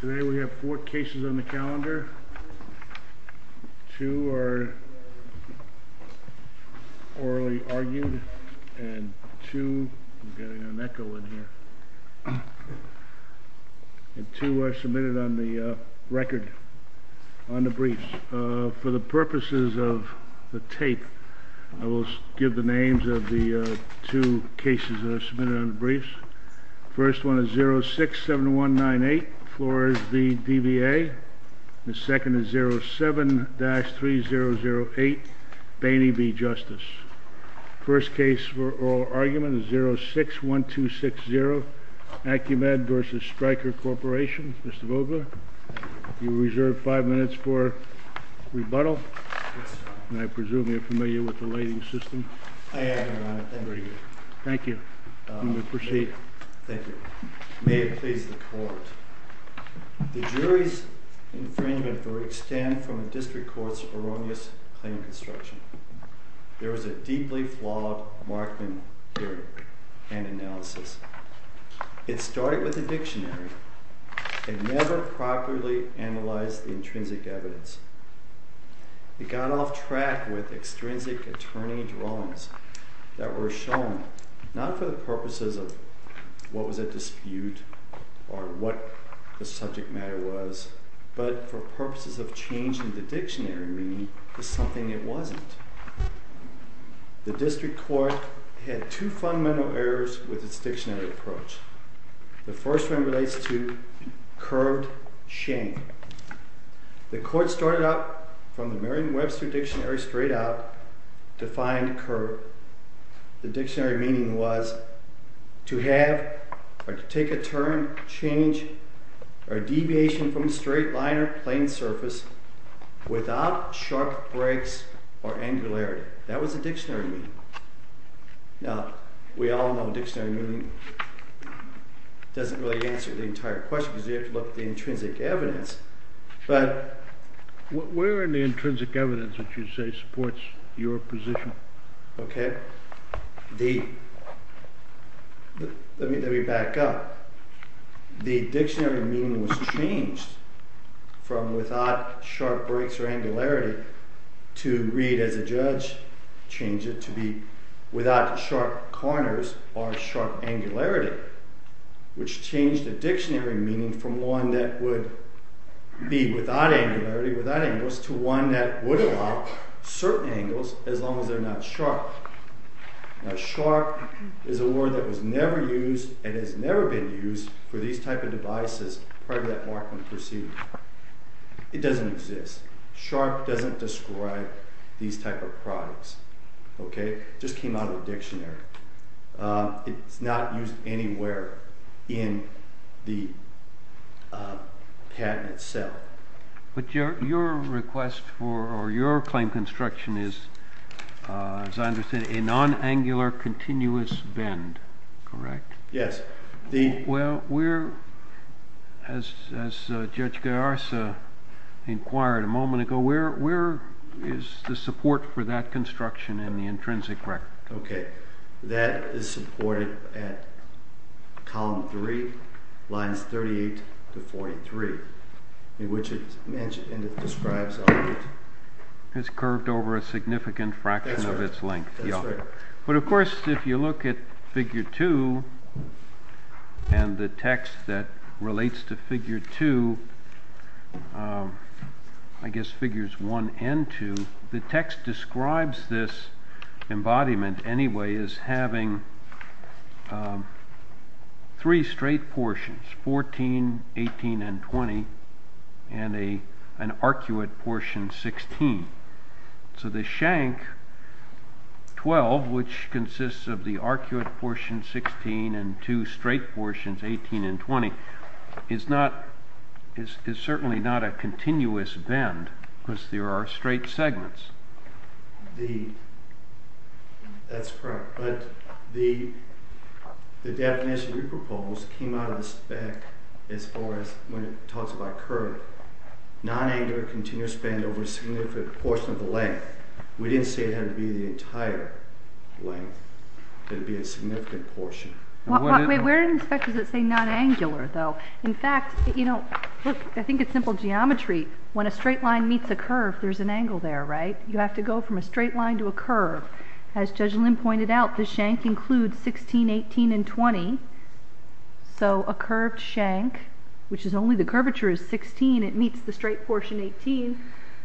Today we have four cases on the calendar, two are orally argued, and two are submitted on the record, on the briefs. For the purposes of the tape, I will give the names of the two cases that are submitted on the briefs. First one is 067198, Flores v. DBA. The second is 07-3008, Bainey v. Justice. First case for oral argument is 061260, Acumed v. Stryker Corporation. Mr. Vogler, you are reserved five minutes for rebuttal. I presume you are familiar with the lading system? I am, Your Honor. Thank you. Thank you. You may proceed. Thank you. May it please the Court. The jury's infringement will extend from the District Court's erroneous claim construction. There is a deeply flawed Markman hearing and analysis. It started with the dictionary and never properly analyzed the intrinsic evidence. It got off track with extrinsic attorney drawings that were shown not for the purposes of what was at dispute or what the subject matter was, but for purposes of changing the dictionary meaning to something it wasn't. The District Court had two fundamental errors with its dictionary approach. The first one relates to curved shank. The Court started out from the Merriam-Webster dictionary straight out to find curved. The dictionary meaning was to have or to take a turn, change, or deviation from a straight line or plain surface without sharp breaks or angularity. That was the dictionary meaning. Now, we all know dictionary meaning doesn't really answer the entire question because you have to look at the intrinsic evidence, but... Where in the intrinsic evidence would you say supports your position? Let me back up. The dictionary meaning was changed from without sharp breaks or angularity to, read as a judge, change it to be without sharp corners or sharp angularity. Which changed the dictionary meaning from one that would be without angularity, without angles, to one that would allow certain angles as long as they're not sharp. Now, sharp is a word that was never used and has never been used for these type of devices prior to that markman proceeding. It doesn't exist. Sharp doesn't describe these type of products. It just came out of the dictionary. It's not used anywhere in the patent itself. But your request for or your claim construction is, as I understand it, a non-angular continuous bend, correct? Yes. Well, where, as Judge Garza inquired a moment ago, where is the support for that construction in the intrinsic record? Okay. That is supported at column 3, lines 38 to 43, in which it describes... It's curved over a significant fraction of its length. That's right. But, of course, if you look at figure 2 and the text that relates to figure 2, I guess figures 1 and 2, the text describes this embodiment anyway as having three straight portions, 14, 18, and 20, and an arcuate portion 16. So the shank 12, which consists of the arcuate portion 16 and two straight portions 18 and 20, is certainly not a continuous bend because there are straight segments. That's correct. But the definition you proposed came out of the spec as far as when it talks about curve. Non-angular continuous bend over a significant portion of the length. We didn't say it had to be the entire length. It had to be a significant portion. Where in the spec does it say non-angular, though? In fact, you know, look, I think it's simple geometry. When a straight line meets a curve, there's an angle there, right? You have to go from a straight line to a curve. As Judge Lynn pointed out, the shank includes 16, 18, and 20. So a curved shank, which is only the curvature is 16, it meets the straight portion 18.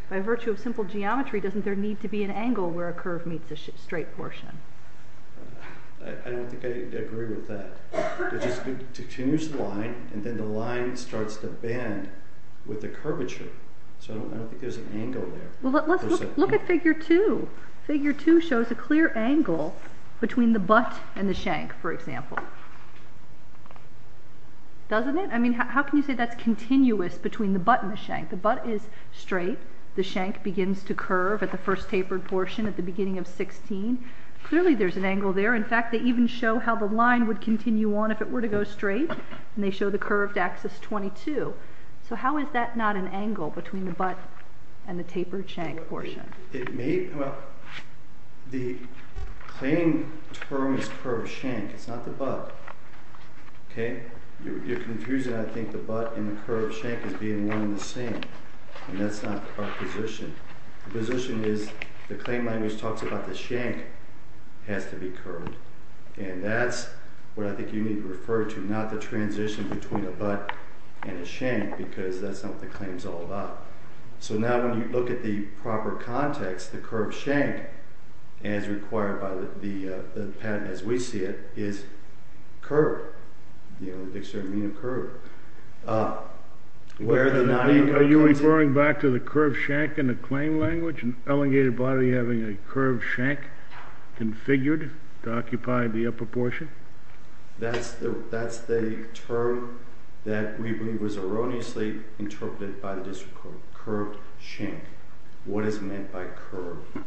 By virtue of simple geometry, doesn't there need to be an angle where a curve meets a straight portion? I don't think I agree with that. It just continues the line, and then the line starts to bend with the curvature. So I don't think there's an angle there. Look at figure 2. Figure 2 shows a clear angle between the butt and the shank, for example. Doesn't it? I mean, how can you say that's continuous between the butt and the shank? The butt is straight. The shank begins to curve at the first tapered portion at the beginning of 16. Clearly there's an angle there. In fact, they even show how the line would continue on if it were to go straight, and they show the curved axis 22. So how is that not an angle between the butt and the tapered shank portion? Well, the claim term is curved shank. It's not the butt. Okay? You're confusing, I think, the butt and the curved shank as being one and the same, and that's not our position. The position is the claim language talks about the shank has to be curved, and that's what I think you need to refer to, not the transition between a butt and a shank, because that's not what the claim is all about. So now when you look at the proper context, the curved shank, as required by the patent as we see it, is curved. You know, the dictionary would mean a curve. Are you referring back to the curved shank in the claim language, an elegated body having a curved shank configured to occupy the upper portion? That's the term that we believe was erroneously interpreted by the district court, curved shank. What is meant by curved?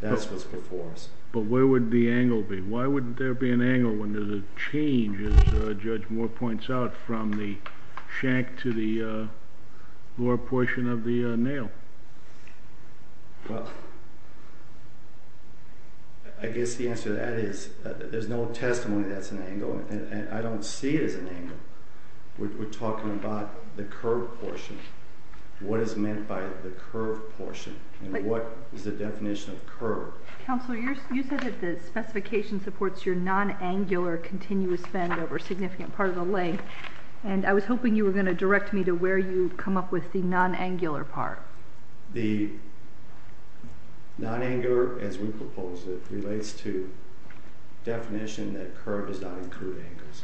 That's what's before us. But where would the angle be? Why wouldn't there be an angle when there's a change, as Judge Moore points out, from the shank to the lower portion of the nail? Well, I guess the answer to that is there's no testimony that's an angle, and I don't see it as an angle. We're talking about the curved portion. What is meant by the curved portion, and what is the definition of curved? Counsel, you said that the specification supports your non-angular continuous bend over a significant part of the leg, and I was hoping you were going to direct me to where you come up with the non-angular part. The non-angular, as we propose it, relates to definition that curved does not include angles.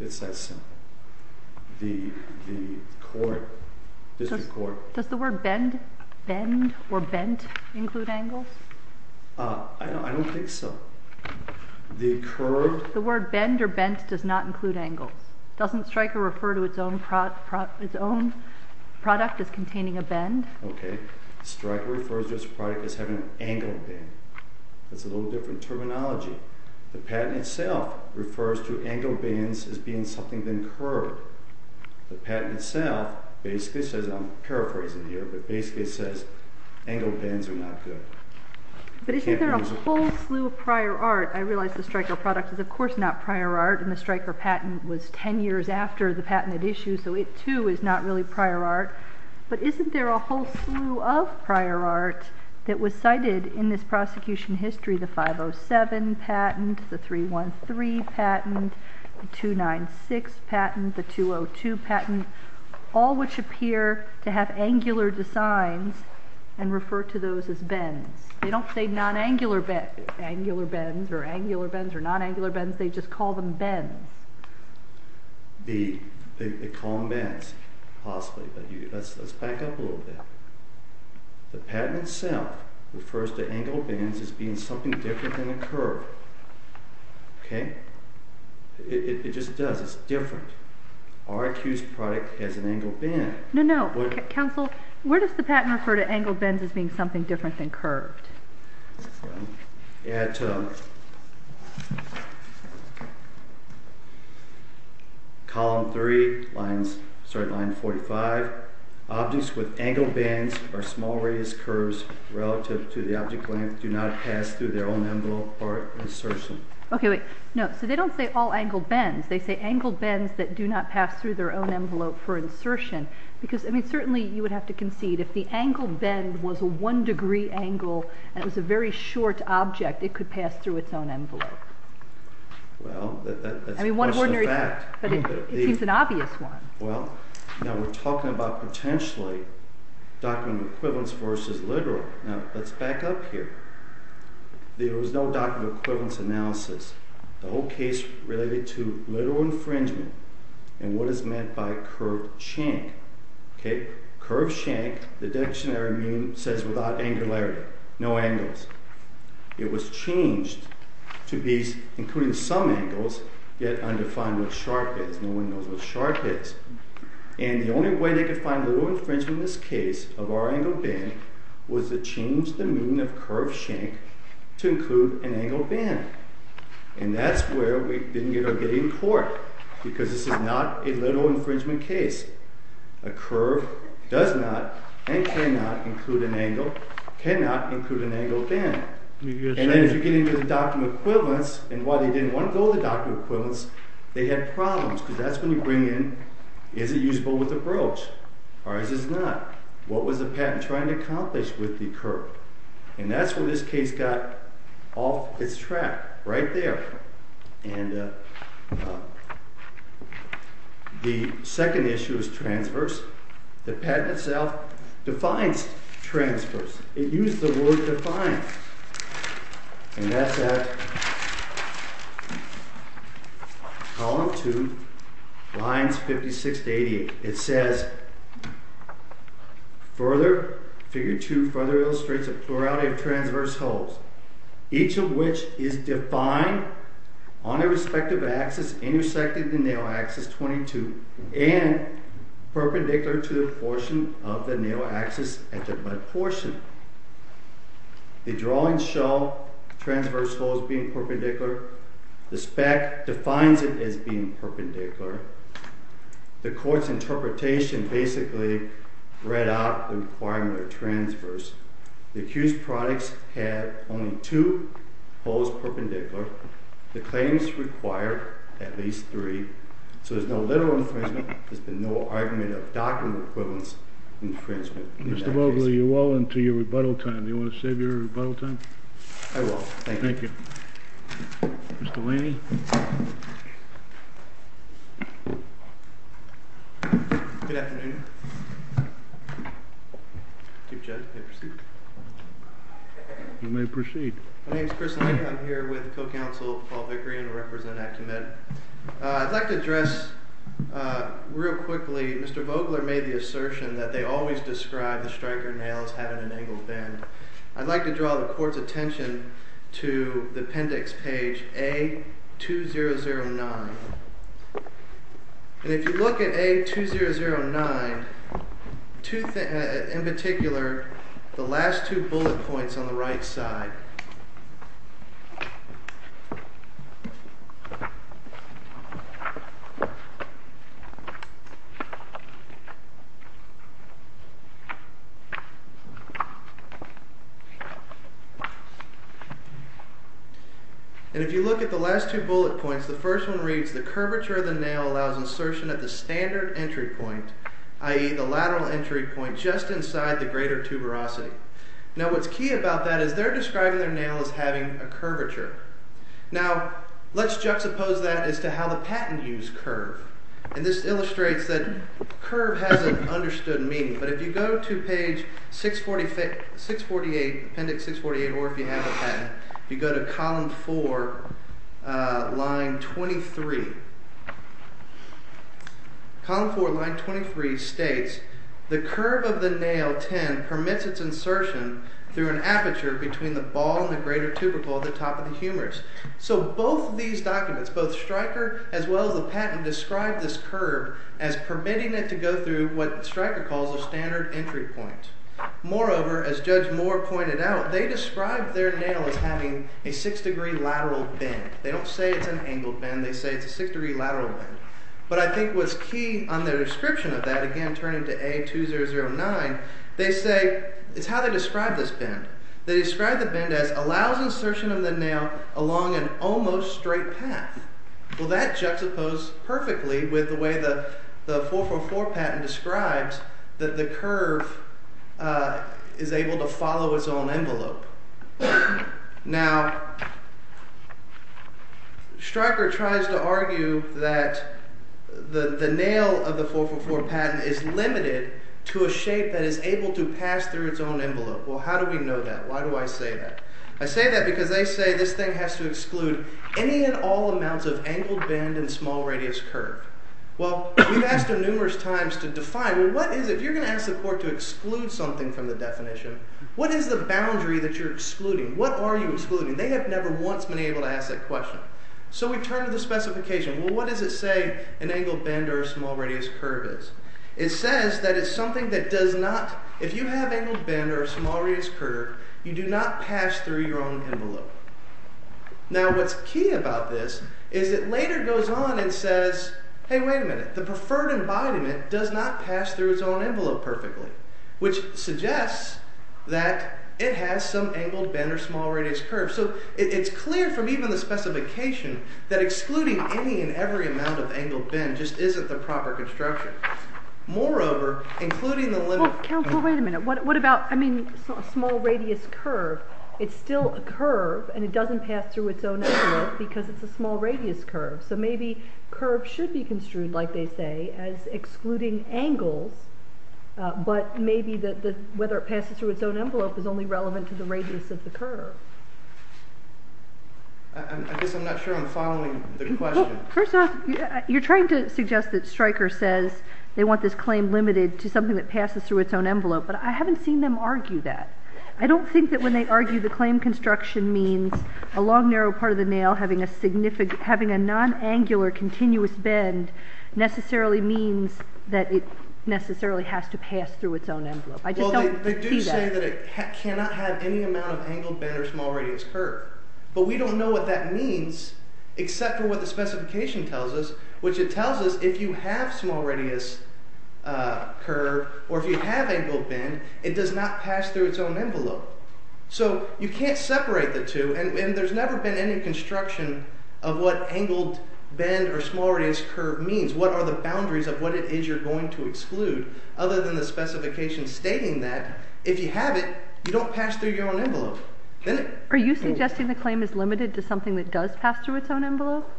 It's that simple. The court, district court. Does the word bend or bent include angles? I don't think so. The curved. The word bend or bent does not include angles. Doesn't Stryker refer to its own product as containing a bend? Okay. Stryker refers to its product as having an angle bend. That's a little different terminology. The patent itself refers to angle bends as being something then curved. The patent itself basically says, I'm paraphrasing here, but basically it says angle bends are not good. But isn't there a whole slew of prior art? I realize the Stryker product is, of course, not prior art, and the Stryker patent was 10 years after the patent had issued, so it, too, is not really prior art. But isn't there a whole slew of prior art that was cited in this prosecution history, the 507 patent, the 313 patent, the 296 patent, the 202 patent, all which appear to have angular designs and refer to those as bends. They don't say non-angular bends or angular bends or non-angular bends. They just call them bends. They call them bends, possibly. Let's back up a little bit. The patent itself refers to angle bends as being something different than a curve. Okay? It just does. It's different. Our accused product has an angle bend. No, no. Counsel, where does the patent refer to angle bends as being something different than curved? At column three, line 45, objects with angle bends or small radius curves relative to the object length do not pass through their own envelope for insertion. Okay, wait. No, so they don't say all angle bends. They say angle bends that do not pass through their own envelope for insertion. Because, I mean, certainly you would have to concede, if the angle bend was a one-degree angle and it was a very short object, it could pass through its own envelope. Well, that's a question of fact. But it seems an obvious one. Well, now we're talking about potentially document equivalence versus literal. Now, let's back up here. There was no document equivalence analysis. The whole case related to literal infringement and what is meant by curved shank. Okay? Curved shank, the dictionary means, says without angularity, no angles. It was changed to be including some angles, yet undefined what sharp is. No one knows what sharp is. And the only way they could find literal infringement in this case of our angle bend was to change the meaning of curved shank to include an angle bend. And that's where we didn't get our getting caught, because this is not a literal infringement case. A curve does not and cannot include an angle bend. And then if you get into the document equivalence, and why they didn't want to go with the document equivalence, they had problems, because that's when you bring in, is it usable with a broach, or is it not? What was the patent trying to accomplish with the curve? And that's where this case got off its track, right there. And the second issue is transverse. The patent itself defines transverse. It used the word defined. And that's at column 2, lines 56 to 88. It says, further, figure 2 further illustrates a plurality of transverse holes, each of which is defined on their respective axis intersecting the nail axis 22 and perpendicular to the portion of the nail axis at the butt portion. The drawings show transverse holes being perpendicular. The spec defines it as being perpendicular. The court's interpretation basically read out the requirement of transverse. The accused products have only two holes perpendicular. The claims require at least three. So there's no literal infringement. There's been no argument of document equivalence infringement in that case. Mr. Bogley, you're well into your rebuttal time. Do you want to save your rebuttal time? I will. Thank you. Thank you. Mr. Laney? Good afternoon. You may proceed. My name is Chris Laney. I'm here with co-counsel Paul Vickery and a representative. I'd like to address real quickly. Mr. Vogler made the assertion that they always describe the striker nail as having an angled bend. I'd like to draw the court's attention to the appendix page A2009. If you look at A2009, in particular, the last two bullet points on the right side. And if you look at the last two bullet points, the first one reads, the curvature of the nail allows insertion at the standard entry point, i.e., the lateral entry point, just inside the greater tuberosity. Now, what's key about that is they're describing their nail as having a curvature. Now, let's juxtapose that as to how the patent views curve. And this illustrates that curve has an understood meaning. But if you go to page 648, appendix 648, or if you have a patent, you go to column 4, line 23. Column 4, line 23 states, the curve of the nail 10 permits its insertion through an aperture between the ball and the greater tubercle at the top of the humerus. So both of these documents, both striker as well as the patent, describe this curve as permitting it to go through what striker calls a standard entry point. Moreover, as Judge Moore pointed out, they described their nail as having a 6-degree lateral bend. They don't say it's an angled bend, they say it's a 6-degree lateral bend. But I think what's key on their description of that, again turning to A2009, they say, it's how they describe this bend. They describe the bend as allows insertion of the nail along an almost straight path. Well, that juxtaposed perfectly with the way the 444 patent describes that the curve is able to follow its own envelope. Now, striker tries to argue that the nail of the 444 patent is limited to a shape that is able to pass through its own envelope. Well, how do we know that? Why do I say that? I say that because they say this thing has to exclude any and all amounts of angled bend and small radius curve. Well, we've asked them numerous times to define, well, what is it? You're going to ask the court to exclude something from the definition. What is the boundary that you're excluding? What are you excluding? They have never once been able to ask that question. So we turn to the specification. Well, what does it say an angled bend or a small radius curve is? It says that it's something that does not, if you have angled bend or a small radius curve, you do not pass through your own envelope. Now, what's key about this is it later goes on and says, hey, wait a minute, the preferred embodiment does not pass through its own envelope perfectly, which suggests that it has some angled bend or small radius curve. So it's clear from even the specification that excluding any and every amount of angled bend just isn't the proper construction. Moreover, including the limit... Well, counsel, wait a minute. What about, I mean, a small radius curve? It's still a curve and it doesn't pass through its own envelope because it's a small radius curve. So maybe curve should be construed, like they say, as excluding angles, but maybe whether it passes through its own envelope is only relevant to the radius of the curve. I guess I'm not sure I'm following the question. First off, you're trying to suggest that Stryker says they want this claim limited to something that passes through its own envelope, but I haven't seen them argue that. I don't think that when they argue the claim construction means a long, narrow part of the nail having a non-angular continuous bend necessarily means that it necessarily has to pass through its own envelope. I just don't see that. Well, they do say that it cannot have any amount of angled bend or small radius curve, but we don't know what that means except for what the specification tells us, which it tells us if you have small radius curve or if you have angled bend, it does not pass through its own envelope. So you can't separate the two, and there's never been any construction of what angled bend or small radius curve means, what are the boundaries of what it is you're going to exclude, other than the specification stating that if you have it, you don't pass through your own envelope. Are you suggesting the claim is limited to something that does pass through its own envelope?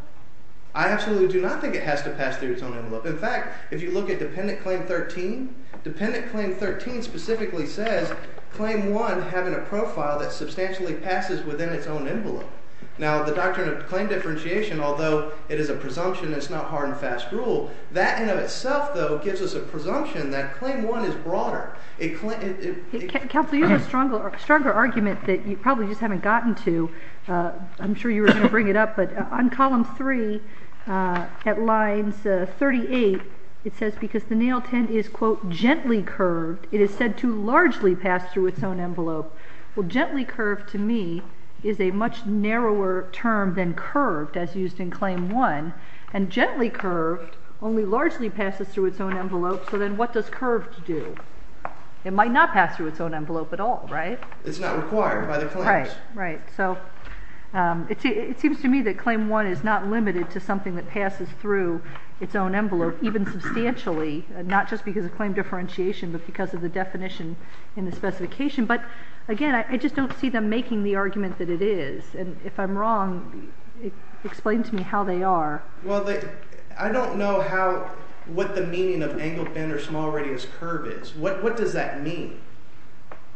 I absolutely do not think it has to pass through its own envelope. In fact, if you look at Dependent Claim 13, Dependent Claim 13 specifically says Claim 1 having a profile that substantially passes within its own envelope. Now, the doctrine of claim differentiation, although it is a presumption, it's not hard and fast rule, that in and of itself, though, gives us a presumption that Claim 1 is broader. Counsel, you have a stronger argument that you probably just haven't gotten to. I'm sure you were going to bring it up, but on Column 3 at Lines 38, it says because the nail tent is, quote, gently curved, it is said to largely pass through its own envelope. Well, gently curved, to me, is a much narrower term than curved, as used in Claim 1, and gently curved only largely passes through its own envelope. So then what does curved do? It might not pass through its own envelope at all, right? It's not required by the claims. Right, right. So it seems to me that Claim 1 is not limited to something that passes through its own envelope, even substantially, not just because of claim differentiation, but because of the definition in the specification. But, again, I just don't see them making the argument that it is. And if I'm wrong, explain to me how they are. Well, I don't know what the meaning of angled bend or small radius curve is. What does that mean?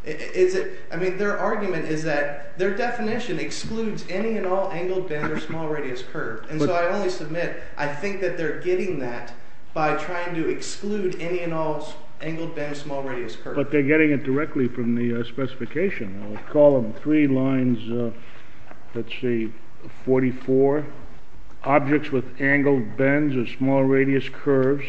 I mean, their argument is that their definition excludes any and all angled bend or small radius curve. And so I only submit I think that they're getting that by trying to exclude any and all angled bend or small radius curve. But they're getting it directly from the specification. In Column 3, Lines, let's see, 44, objects with angled bends or small radius curves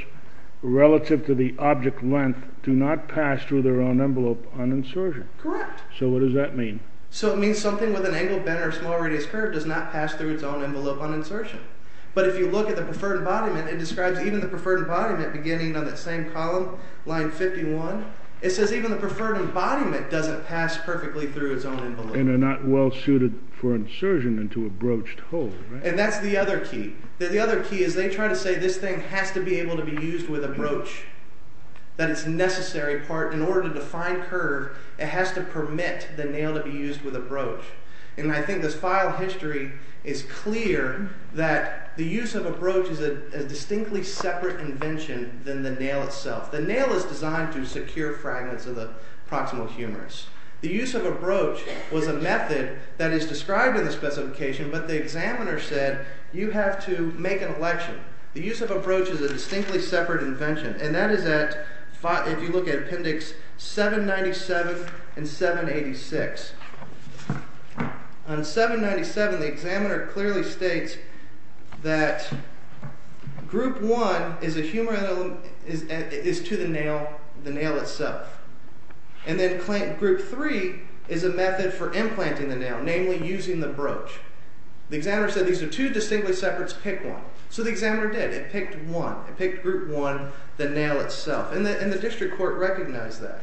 relative to the object length do not pass through their own envelope on insertion. Correct. So what does that mean? So it means something with an angled bend or small radius curve does not pass through its own envelope on insertion. But if you look at the preferred embodiment, it describes even the preferred embodiment beginning on that same column, Line 51, it says even the preferred embodiment doesn't pass perfectly through its own envelope. And they're not well suited for insertion into a broached hole. And that's the other key. The other key is they try to say this thing has to be able to be used with a broach. That its necessary part in order to define curve, it has to permit the nail to be used with a broach. And I think this file history is clear that the use of a broach is a distinctly separate invention than the nail itself. The nail is designed to secure fragments of the proximal humerus. The use of a broach was a method that is described in the specification, but the examiner said you have to make an election. The use of a broach is a distinctly separate invention. And that is at, if you look at Appendix 797 and 786. On 797 the examiner clearly states that Group 1 is to the nail itself. And then Group 3 is a method for implanting the nail, namely using the broach. The examiner said these are two distinctly separate pick one. So the examiner did. It picked one. It picked Group 1, the nail itself. And the district court recognized that.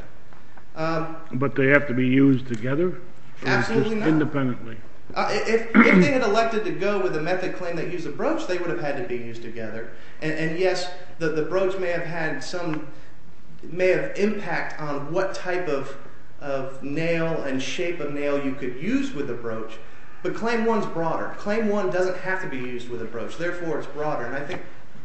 But they have to be used together? Absolutely not. Or just independently? If they had elected to go with a method claim that used a broach, they would have had to be used together. And yes, the broach may have had some, may have impact on what type of nail and shape of nail you could use with a broach. But Claim 1 is broader. Claim 1 doesn't have to be used with a broach. Therefore, it's broader.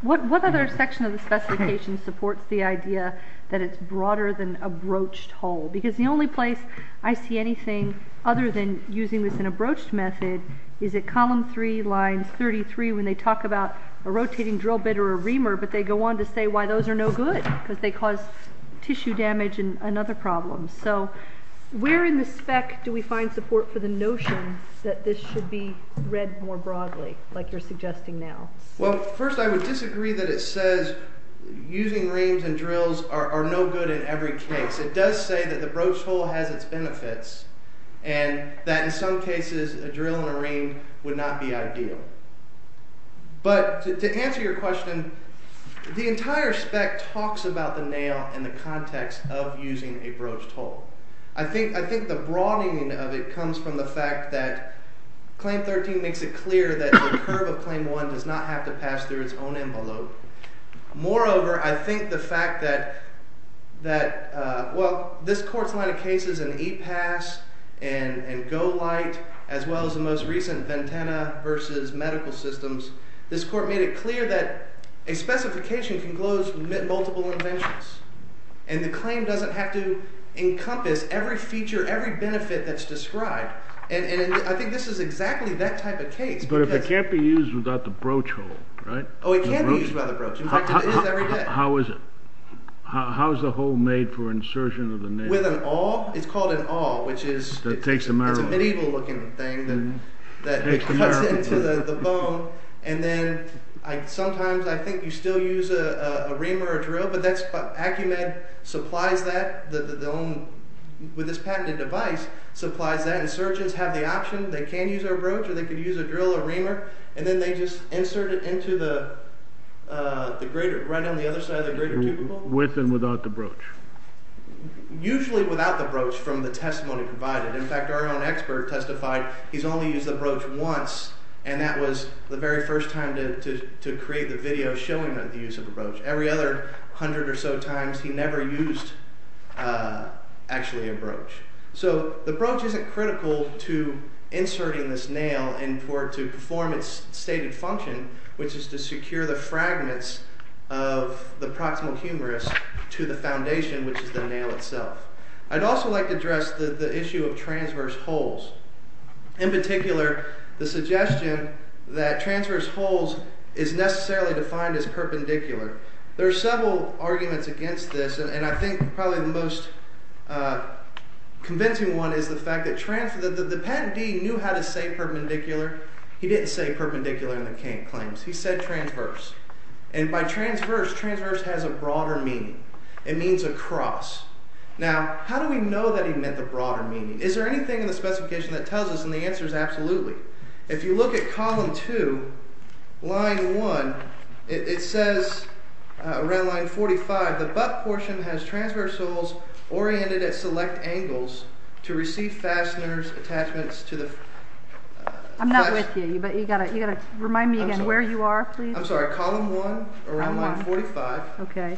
What other section of the specification supports the idea that it's broader than a broached hole? Because the only place I see anything other than using this in a broached method is at Column 3, Line 33 when they talk about a rotating drill bit or a reamer, but they go on to say why those are no good because they cause tissue damage and other problems. So where in the spec do we find support for the notion that this should be read more broadly, like you're suggesting now? Well, first I would disagree that it says using reams and drills are no good in every case. It does say that the broached hole has its benefits and that in some cases a drill and a ream would not be ideal. But to answer your question, the entire spec talks about the nail in the context of using a broached hole. I think the broadening of it comes from the fact that Claim 13 makes it clear that the curve of Claim 1 does not have to pass through its own envelope. Moreover, I think the fact that, well, this Court's line of cases in E-Pass and Go-Lite as well as the most recent Ventana v. Medical Systems, this Court made it clear that a specification can close multiple interventions and the claim doesn't have to encompass every feature, every benefit that's described. And I think this is exactly that type of case. But it can't be used without the broached hole, right? Oh, it can be used without the broached hole. In fact, it is every day. How is it? How is the hole made for insertion of the nail? With an awl. It's called an awl, which is a medieval-looking thing that cuts into the bone. And then sometimes I think you still use a ream or a drill, but AccuMed supplies that. With this patented device, supplies that, and surgeons have the option. They can use our broach or they can use a drill or reamer, and then they just insert it right on the other side of the greater tubercle. With and without the broach? Usually without the broach from the testimony provided. In fact, our own expert testified he's only used the broach once, and that was the very first time to create the video showing the use of the broach. Every other hundred or so times he never used actually a broach. So the broach isn't critical to inserting this nail and for it to perform its stated function, which is to secure the fragments of the proximal humerus to the foundation, which is the nail itself. I'd also like to address the issue of transverse holes. In particular, the suggestion that transverse holes is necessarily defined as perpendicular. There are several arguments against this, and I think probably the most convincing one is the fact that the patentee knew how to say perpendicular. He didn't say perpendicular in the claims. He said transverse, and by transverse, transverse has a broader meaning. It means across. Now, how do we know that he meant the broader meaning? Is there anything in the specification that tells us, and the answer is absolutely. If you look at column 2, line 1, it says around line 45, the butt portion has transverse holes oriented at select angles to receive fasteners, attachments to the… I'm not with you, but you've got to remind me again where you are, please. I'm sorry, column 1, around line 45. Okay.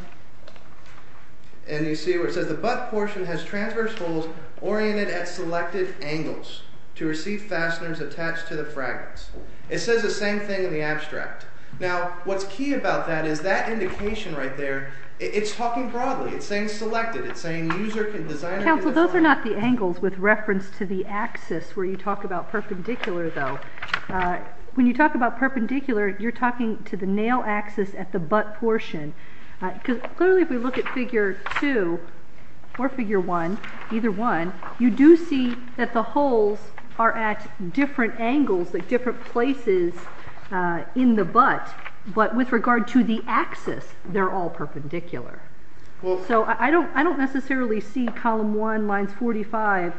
And you see where it says the butt portion has transverse holes oriented at selected angles to receive fasteners attached to the fragments. It says the same thing in the abstract. Now, what's key about that is that indication right there, it's talking broadly. It's saying selected. It's saying user can design… Counsel, those are not the angles with reference to the axis where you talk about perpendicular, though. When you talk about perpendicular, you're talking to the nail axis at the butt portion. Clearly, if we look at figure 2 or figure 1, either one, you do see that the holes are at different angles at different places in the butt, but with regard to the axis, they're all perpendicular. So I don't necessarily see column 1, lines 45,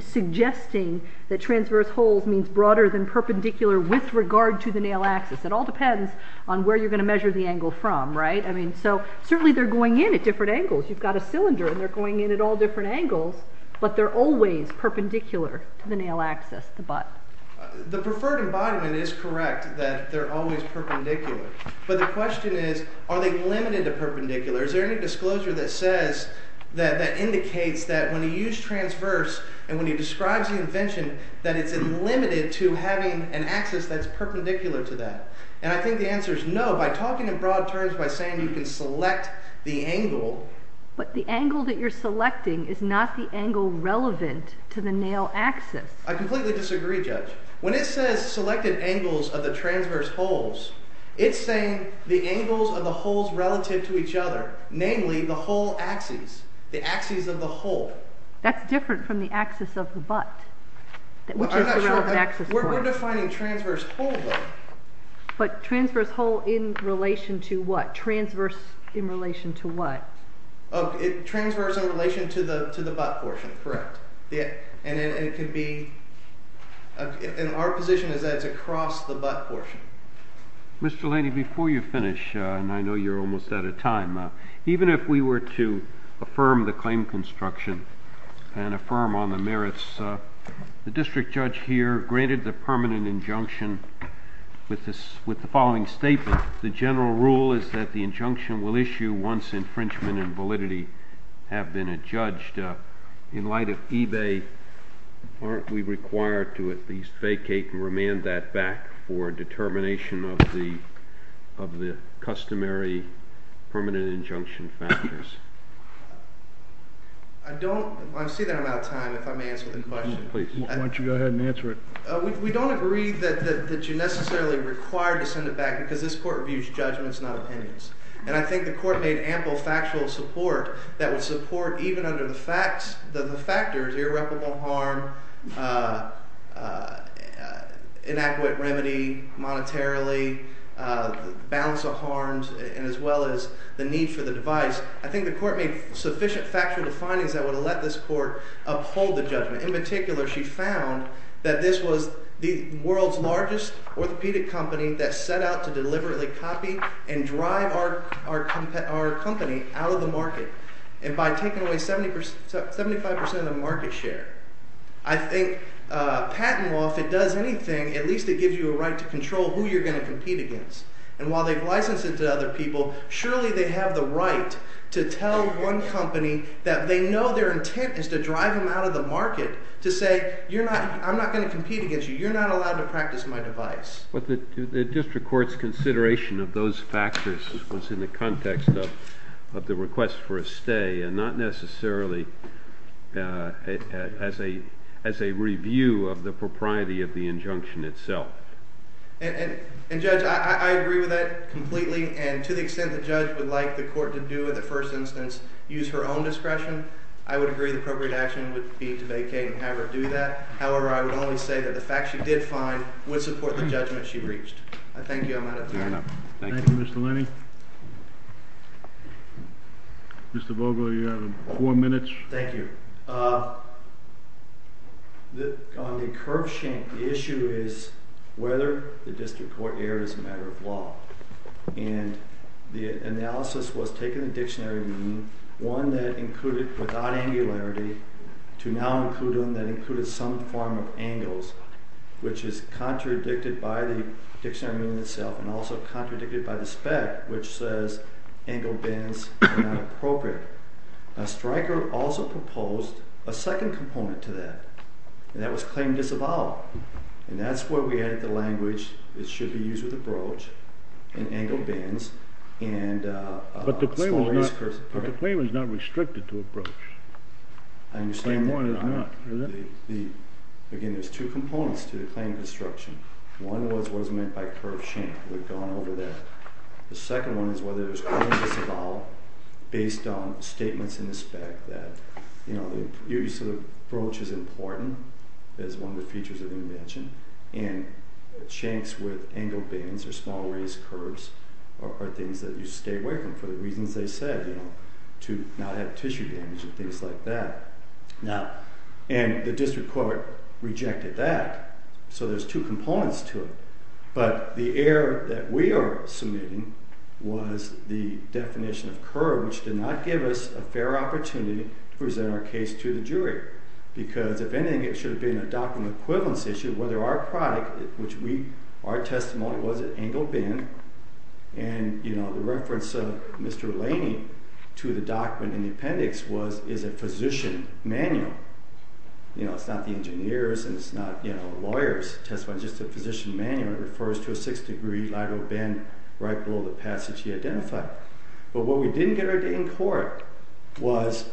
suggesting that transverse holes means broader than perpendicular with regard to the nail axis. It all depends on where you're going to measure the angle from, right? I mean, so certainly they're going in at different angles. You've got a cylinder, and they're going in at all different angles, but they're always perpendicular to the nail axis, the butt. The preferred embodiment is correct that they're always perpendicular, but the question is, are they limited to perpendicular? Is there any disclosure that says, that indicates that when you use transverse and when you describe the invention, that it's limited to having an axis that's perpendicular to that? And I think the answer is no. By talking in broad terms, by saying you can select the angle... But the angle that you're selecting is not the angle relevant to the nail axis. I completely disagree, Judge. When it says selected angles of the transverse holes, it's saying the angles of the holes relative to each other, namely the hole axes, the axes of the hole. That's different from the axis of the butt, which is the relevant axis point. We're defining transverse hole, though. But transverse hole in relation to what? Transverse in relation to what? Transverse in relation to the butt portion, correct. And it could be... And our position is that it's across the butt portion. Mr. Laney, before you finish, and I know you're almost out of time, even if we were to affirm the claim construction and affirm on the merits, the district judge here granted the permanent injunction with the following statement. The general rule is that the injunction will issue once infringement and validity have been adjudged. In light of eBay, aren't we required to at least vacate and remand that back for determination of the customary permanent injunction factors? I don't... I see that I'm out of time, if I may answer the question. Please, why don't you go ahead and answer it. We don't agree that you're necessarily required to send it back because this court reviews judgments, not opinions. And I think the court made ample factual support that would support even under the facts, the factors, irreparable harm, inadequate remedy monetarily, balance of harms, and as well as the need for the device. I think the court made sufficient factual findings that would let this court uphold the judgment. In particular, she found that this was the world's largest orthopedic company that set out to deliberately copy and drive our company out of the market. And by taking away 75% of market share, I think patent law, if it does anything, at least it gives you a right to control who you're going to compete against. And while they've licensed it to other people, surely they have the right to tell one company that they know their intent is to drive them out of the market to say, I'm not going to compete against you. You're not allowed to practice my device. But the district court's consideration of those factors was in the context of the request for a stay and not necessarily as a review of the propriety of the injunction itself. And Judge, I agree with that completely. And to the extent the judge would like the court to do, in the first instance, use her own discretion, I would agree the appropriate action would be to vacate and have her do that. However, I would only say that the facts she did find would support the judgment she reached. I thank you. I'm out of time. Thank you, Mr. Lenny. Mr. Vogler, you have four minutes. Thank you. On the curb shank, the issue is whether the district court erred as a matter of law. And the analysis was taking the dictionary meaning, one that included without angularity, to now include one that included some form of angles, which is contradicted by the dictionary meaning itself and also contradicted by the spec, which says angled bends are not appropriate. Now, Stryker also proposed a second component to that, and that was claim disavowed. And that's where we added the language, it should be used with a broach, and angled bends. But the claim is not restricted to a broach. I understand that. Again, there's two components to the claim construction. One was what is meant by curb shank. We've gone over that. The second one is whether there's claim disavowed based on statements in the spec that, you know, the use of a broach is important as one of the features of the invention, and shanks with angled bends or small raised curbs are things that you stay away from for the reasons they said, you know, to not have tissue damage and things like that. Now, and the district court rejected that. So there's two components to it. But the error that we are submitting was the definition of curb, which did not give us a fair opportunity to present our case to the jury because, if anything, it should have been a document equivalence issue, whether our product, which we, our testimony was an angled bend, and, you know, the reference of Mr. Laney to the document in the appendix was, is a physician manual. You know, it's not the engineer's and it's not, you know, a lawyer's testimony. It's just a physician manual. It refers to a six-degree lateral bend right below the passage he identified. But what we didn't get in court was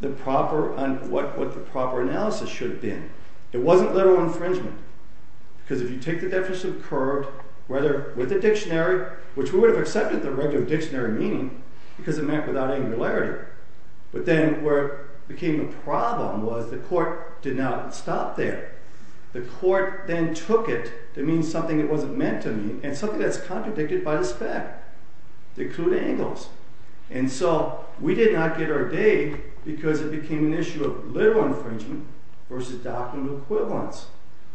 the proper, what the proper analysis should have been. It wasn't lateral infringement because if you take the definition of curb, whether with a dictionary, which we would have accepted the regular dictionary meaning because it meant without angularity. But then where it became a problem was the court did not stop there. The court then took it to mean something it wasn't meant to mean and something that's contradicted by the spec. They clued angles. And so we did not get our day because it became an issue of literal infringement versus document equivalence.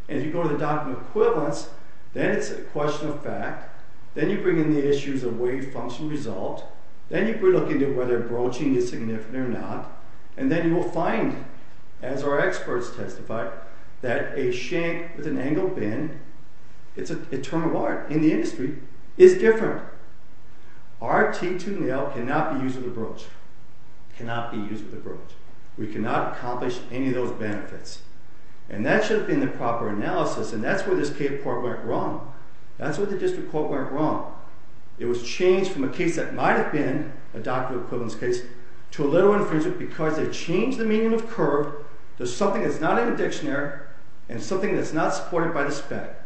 And if you go to the document equivalence, then it's a question of fact. Then you bring in the issues of wave function result. Then you look into whether broaching is significant or not. And then you will find, as our experts testified, that a shank with an angled bend, it's a term of art in the industry, is different. RT to nail cannot be used with a broach. Cannot be used with a broach. We cannot accomplish any of those benefits. And that should have been the proper analysis. And that's where this court went wrong. That's where the district court went wrong. It was changed from a case that might have been a document equivalence case to a literal infringement because they changed the meaning of curve to something that's not in the dictionary and something that's not supported by the spec.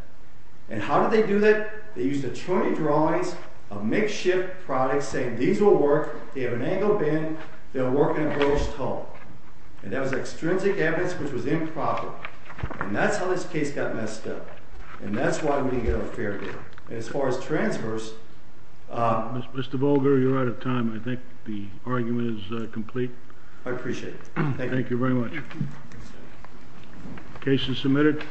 And how did they do that? They used attorney drawings of makeshift products saying these will work. They have an angled bend. They'll work in a broached hull. And that was extrinsic evidence which was improper. And that's how this case got messed up. And that's why we didn't get a fair deal. And as far as transverse... Mr. Bolger, you're out of time. I think the argument is complete. I appreciate it. Thank you. Thank you very much. Case is submitted.